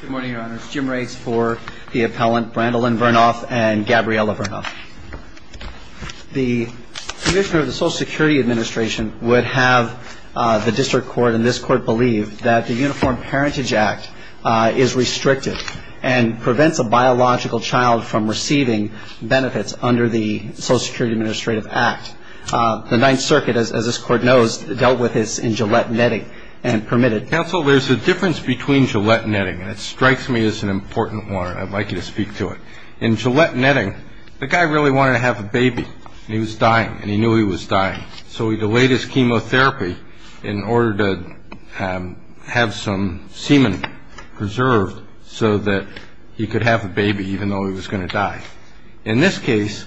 Good morning, your honors. Jim Riggs for the appellant, Brandilyn Vernoff and Gabriella Vernoff. The commissioner of the Social Security Administration would have the district court and this court believe that the Uniform Parentage Act is restricted and prevents a biological child from receiving benefits under the Social Security Administrative Act. The Ninth Circuit, as this court knows, dealt with this in Gillette Netting and permitted counsel there's a difference between Gillette Netting and it strikes me as an important one. I'd like you to speak to it. In Gillette Netting, the guy really wanted to have a baby. He was dying and he knew he was dying. So he delayed his chemotherapy in order to have some semen preserved so that he could have a baby, even though he was going to die. In this case,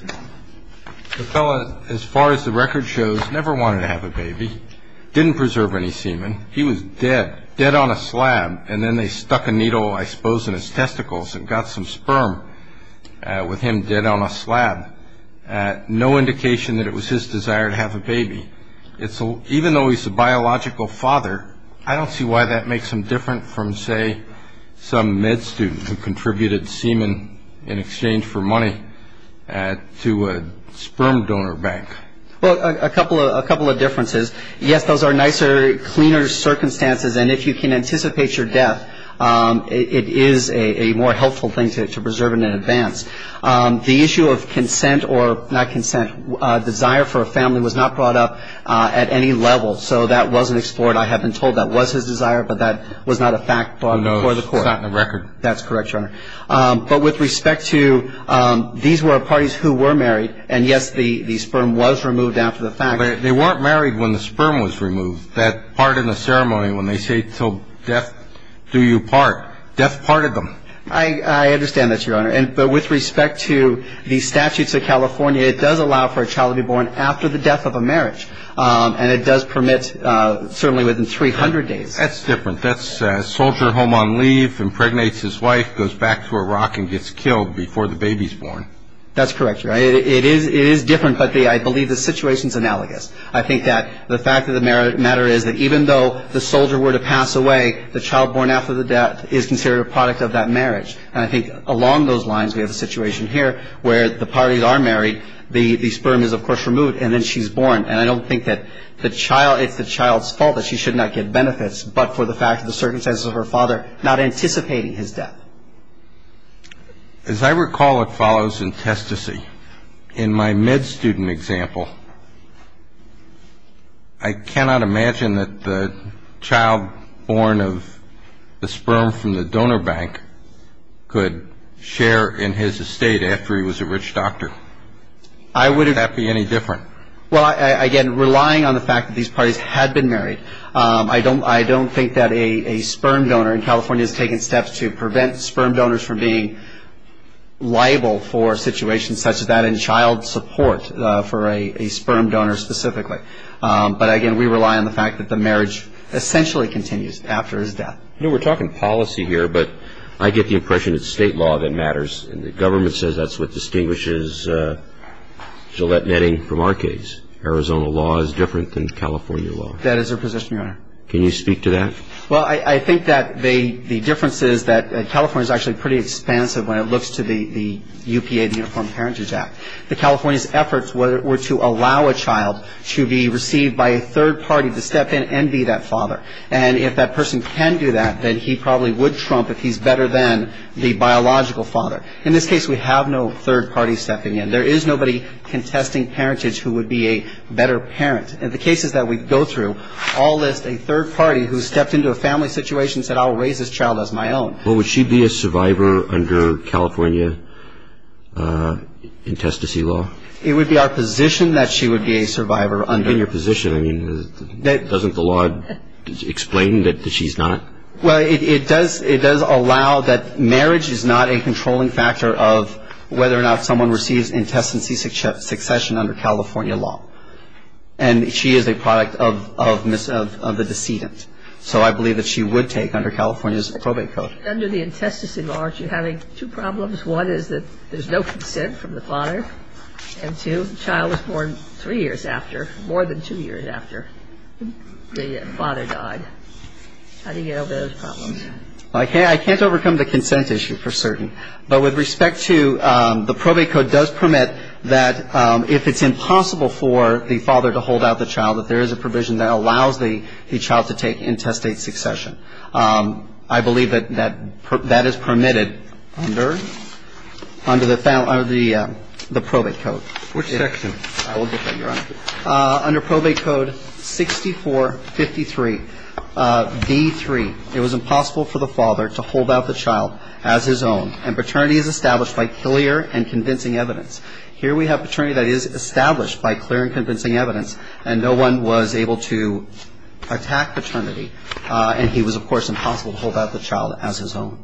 as far as the record shows, never wanted to have a baby, didn't preserve any semen. He was dead, dead on a slab. And then they stuck a needle, I suppose, in his testicles and got some sperm with him dead on a slab. No indication that it was his desire to have a baby. Even though he's a biological father, I don't see why that makes him different from, say, some med student who contributed semen in exchange for money to a sperm donor bank. Well, a couple of differences. Yes, those are nicer, cleaner circumstances. And if you can anticipate your death, it is a more helpful thing to preserve it in advance. The issue of consent or not consent, desire for a family was not brought up at any level. So that wasn't explored. I have been told that was his desire, but that was not a fact before the court. No, it's not in the record. That's correct, Your Honor. But with respect to these were parties who were married, and, yes, the sperm was removed after the fact. They weren't married when the sperm was removed. That part in the ceremony when they say, till death do you part, death parted them. I understand that, Your Honor. But with respect to the statutes of California, it does allow for a child to be born after the death of a marriage. And it does permit certainly within 300 days. That's different. That's a soldier home on leave, impregnates his wife, goes back to Iraq and gets killed before the baby is born. That's correct, Your Honor. It is different, but I believe the situation is analogous. I think that the fact of the matter is that even though the soldier were to pass away, the child born after the death is considered a product of that marriage. And I think along those lines, we have a situation here where the parties are married, the sperm is, of course, removed, and then she's born. And I don't think that it's the child's fault that she should not get benefits, but for the fact of the circumstances of her father not anticipating his death. As I recall, it follows in testesy. In my med student example, I cannot imagine that the child born of the sperm from the donor bank could share in his estate after he was a rich doctor. Would that be any different? Well, again, relying on the fact that these parties had been married, I don't think that a sperm donor in California has taken steps to prevent sperm donors from being liable for situations such as that and child support for a sperm donor specifically. But, again, we rely on the fact that the marriage essentially continues after his death. You know, we're talking policy here, but I get the impression it's state law that matters. And the government says that's what distinguishes Gillette Netting from our case. Arizona law is different than California law. That is their position, Your Honor. Can you speak to that? Well, I think that the difference is that California is actually pretty expansive when it looks to the UPA, the Uniform Parentage Act. The California's efforts were to allow a child to be received by a third party to step in and be that father. And if that person can do that, then he probably would trump if he's better than the biological father. In this case, we have no third party stepping in. There is nobody contesting parentage who would be a better parent. And the cases that we go through all list a third party who stepped into a family situation and said, I'll raise this child as my own. Well, would she be a survivor under California intestacy law? It would be our position that she would be a survivor under that. That's not my position. I mean, doesn't the law explain that she's not? Well, it does allow that marriage is not a controlling factor of whether or not someone receives intestacy succession under California law. And she is a product of the decedent. So I believe that she would take under California's probate code. Under the intestacy law, aren't you having two problems? One is that there's no consent from the father. And two, the child was born three years after, more than two years after the father died. How do you get over those problems? I can't overcome the consent issue for certain. But with respect to the probate code does permit that if it's impossible for the father to hold out the child, that there is a provision that allows the child to take intestate succession. I believe that that is permitted under the probate code. Which section? I will get that, Your Honor. Under probate code 6453. D3, it was impossible for the father to hold out the child as his own. And paternity is established by clear and convincing evidence. Here we have paternity that is established by clear and convincing evidence. And no one was able to attack paternity. And he was, of course, impossible to hold out the child as his own.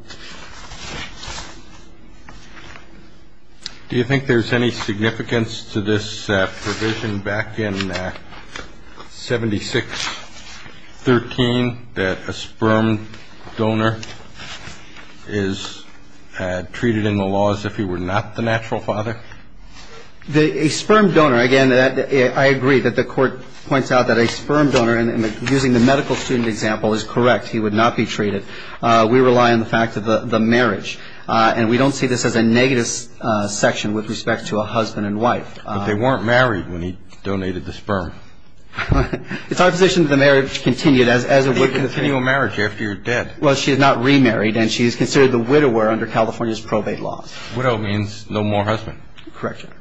Do you think there's any significance to this provision back in 7613, that a sperm donor is treated in the laws if he were not the natural father? A sperm donor, again, I agree that the Court points out that a sperm donor, using the medical student example, is correct. He would not be treated. We rely on the fact of the marriage. And we don't see this as a negative section with respect to a husband and wife. But they weren't married when he donated the sperm. It's our position that the marriage continued as it would be the case. They continue a marriage after you're dead. Well, she is not remarried. And she is considered the widower under California's probate law. Widow means no more husband. Correct, Your Honor.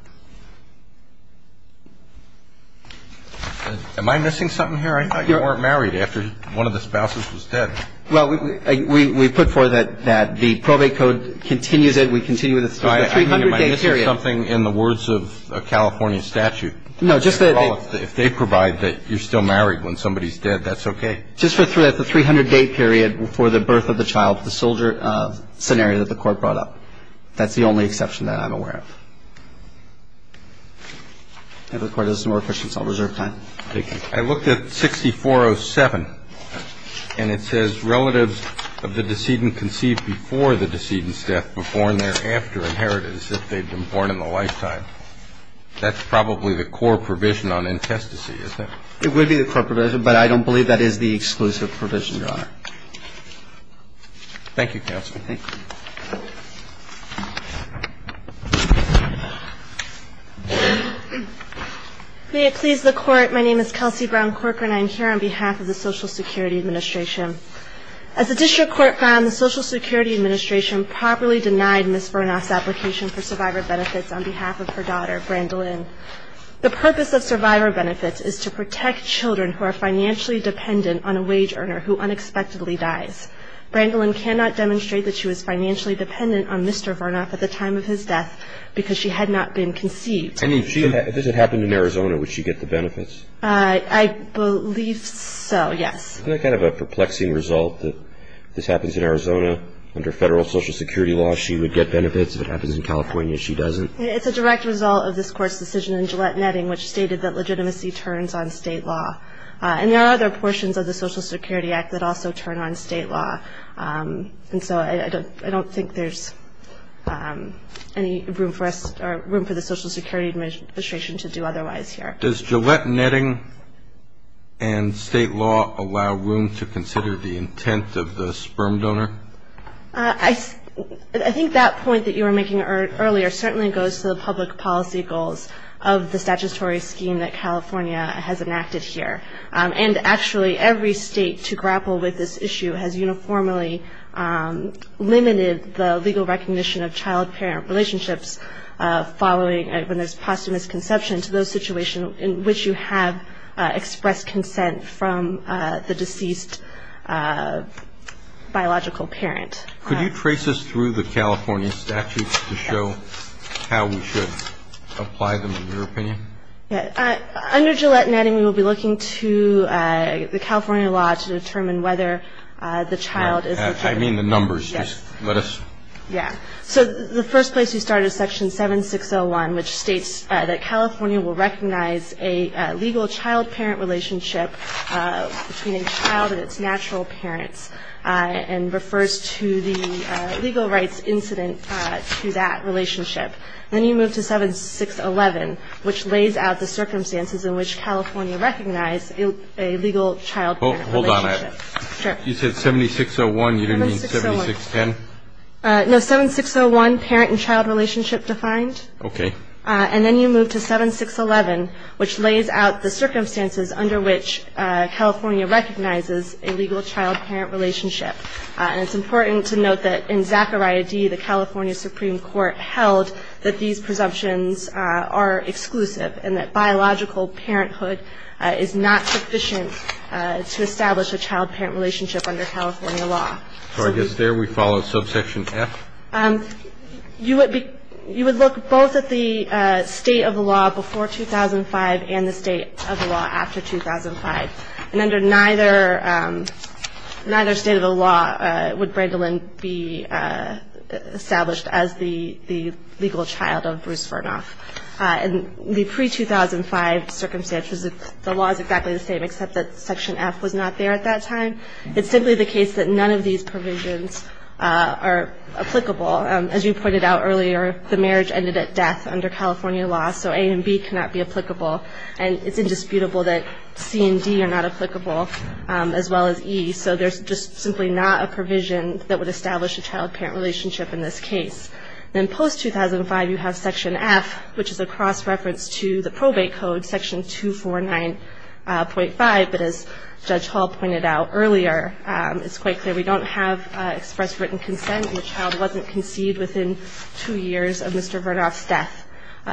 Am I missing something here? I thought you weren't married after one of the spouses was dead. Well, we put forth that the probate code continues it. We continue it. It's a 300-day period. I mean, am I missing something in the words of a California statute? No. If they provide that you're still married when somebody's dead, that's okay. Just for the 300-day period before the birth of the child, the soldier scenario that the Court brought up. That's the only exception that I'm aware of. If the Court has some more questions, I'll reserve time. Thank you. I looked at 6407, and it says relatives of the decedent conceived before the decedent's death were born thereafter and inherited as if they'd been born in a lifetime. That's probably the core provision on intestacy, isn't it? It would be the core provision, but I don't believe that is the exclusive provision, Your Honor. Thank you, Counsel. Thank you. May it please the Court, my name is Kelsey Brown-Corker, and I am here on behalf of the Social Security Administration. As the District Court found, the Social Security Administration properly denied Ms. Varnoff's application for survivor benefits on behalf of her daughter, Brandilyn. The purpose of survivor benefits is to protect children who are financially dependent on a wage earner who unexpectedly dies. Brandilyn cannot demonstrate that she was financially dependent on Mr. Varnoff at the time of his death because she had not been conceived. I mean, if this had happened in Arizona, would she get the benefits? I believe so, yes. Isn't that kind of a perplexing result, that if this happens in Arizona under federal Social Security law, she would get benefits? If it happens in California, she doesn't? It's a direct result of this Court's decision in Gillette Netting, which stated that legitimacy turns on state law. And there are other portions of the Social Security Act that also turn on state law. And so I don't think there's any room for the Social Security Administration to do otherwise here. Does Gillette Netting and state law allow room to consider the intent of the sperm donor? I think that point that you were making earlier certainly goes to the public policy goals of the statutory scheme that California has enacted here. And actually, every state to grapple with this issue has uniformly limited the legal recognition of child-parent relationships following when there's posthumous conception to those situations in which you have expressed consent from the deceased biological parent. Could you trace this through the California statute to show how we should apply them, in your opinion? Yeah. Under Gillette Netting, we will be looking to the California law to determine whether the child is a child. I mean the numbers. Yes. Just let us. Yeah. So the first place you start is Section 7601, which states that California will recognize a legal child-parent relationship between a child and its natural parents and refers to the legal rights incident to that relationship. Then you move to 7611, which lays out the circumstances in which California recognizes a legal child-parent relationship. Hold on a minute. Sure. You said 7601. You didn't mean 7610? No. 7601, parent and child relationship defined. Okay. And then you move to 7611, which lays out the circumstances under which California recognizes a legal child-parent relationship. And it's important to note that in Zachariah D., the California Supreme Court held that these presumptions are exclusive and that biological parenthood is not sufficient to establish a child-parent relationship under California law. So I guess there we follow subsection F? You would look both at the state of the law before 2005 and the state of the law after 2005. And under neither state of the law would Brandilyn be established as the legal child of Bruce Vernoff. In the pre-2005 circumstances, the law is exactly the same, except that section F was not there at that time. It's simply the case that none of these provisions are applicable. As you pointed out earlier, the marriage ended at death under California law, so A and B cannot be applicable. And it's indisputable that C and D are not applicable, as well as E. So there's just simply not a provision that would establish a child-parent relationship in this case. Then post-2005, you have section F, which is a cross-reference to the probate code, section 249.5. But as Judge Hall pointed out earlier, it's quite clear we don't have express written consent and the child wasn't conceived within two years of Mr. Vernoff's death.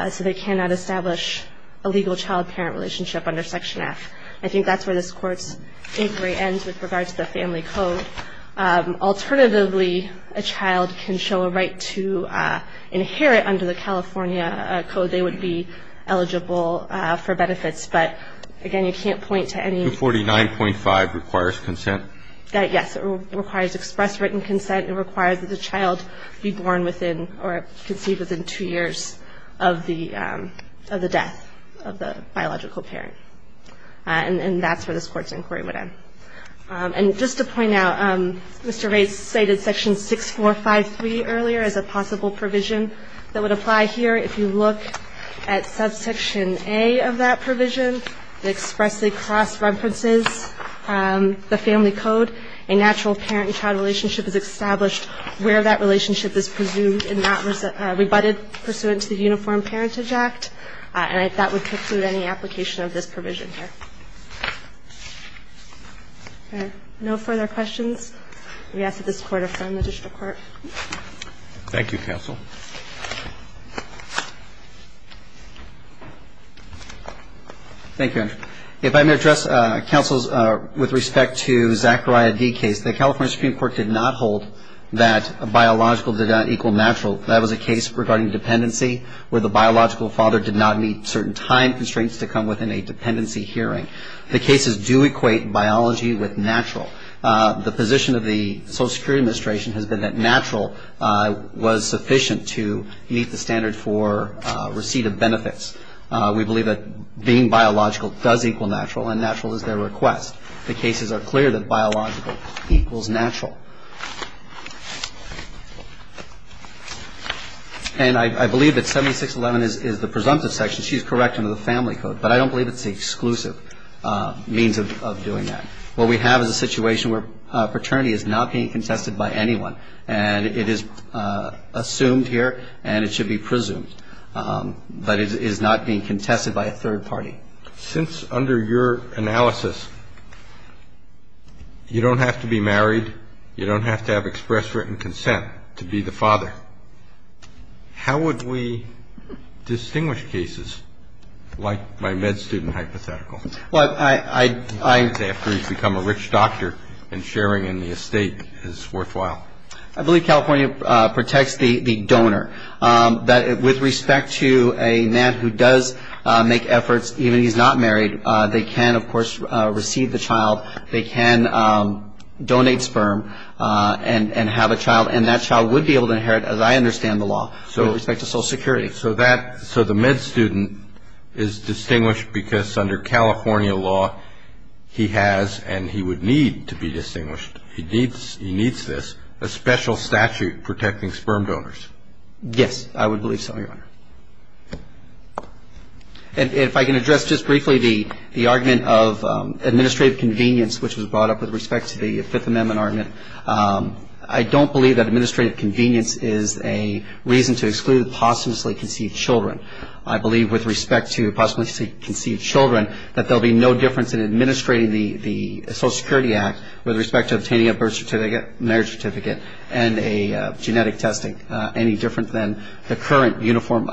So they cannot establish a legal child-parent relationship under section F. I think that's where this Court's inquiry ends with regard to the family code. Alternatively, a child can show a right to inherit under the California code. They would be eligible for benefits. But, again, you can't point to any ---- 249.5 requires consent? Yes. It requires express written consent. It requires that the child be born within or conceived within two years of the death of the biological parent. And that's where this Court's inquiry would end. And just to point out, Mr. Rates cited section 6453 earlier as a possible provision that would apply here. If you look at subsection A of that provision, it expressly cross-references the family code. A natural parent-child relationship is established where that relationship is presumed and not rebutted pursuant to the Uniform Parentage Act. And that would preclude any application of this provision here. No further questions? We ask that this Court affirm the district court. Thank you, counsel. Thank you, Andrea. If I may address, counsel, with respect to Zachariah D. case, the California Supreme Court did not hold that biological did not equal natural. That was a case regarding dependency where the biological father did not meet certain time constraints to come within a dependency hearing. The cases do equate biology with natural. The position of the Social Security Administration has been that natural was sufficient to meet the standard for receipt of benefits. We believe that being biological does equal natural, and natural is their request. The cases are clear that biological equals natural. And I believe that 7611 is the presumptive section. She's correct under the family code, but I don't believe it's the exclusive means of doing that. What we have is a situation where paternity is not being contested by anyone, and it is assumed here and it should be presumed. But it is not being contested by a third party. Since under your analysis, you don't have to be married, you don't have to have express written consent to be the father, how would we distinguish cases like my med student hypothetical? Well, I. After he's become a rich doctor and sharing in the estate is worthwhile. I believe California protects the donor. With respect to a man who does make efforts, even if he's not married, they can, of course, receive the child. They can donate sperm and have a child. And that child would be able to inherit, as I understand the law, with respect to Social Security. So the med student is distinguished because under California law he has, and he would need to be distinguished, he needs this, a special statute protecting sperm donors. Yes, I would believe so, Your Honor. And if I can address just briefly the argument of administrative convenience, which was brought up with respect to the Fifth Amendment argument, I don't believe that administrative convenience is a reason to exclude posthumously conceived children. I believe with respect to posthumously conceived children that there will be no difference in administrating the Social Security Act with respect to obtaining a birth certificate, marriage certificate, and a genetic testing, any different than the current Uniform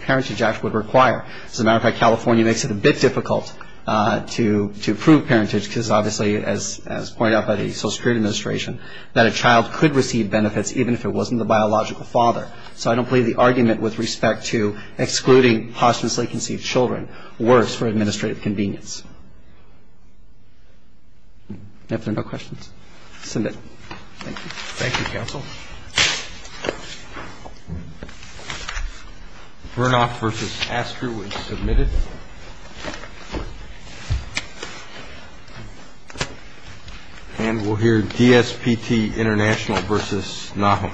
Parentage Act would require. As a matter of fact, California makes it a bit difficult to approve parentage, because obviously, as pointed out by the Social Security Administration, that a child could receive benefits even if it wasn't the biological father. So I don't believe the argument with respect to excluding posthumously conceived children works for administrative convenience. If there are no questions, submit. Thank you. Thank you, counsel. Bernoff v. Astor was submitted. And we'll hear DSPT International v. Nahum.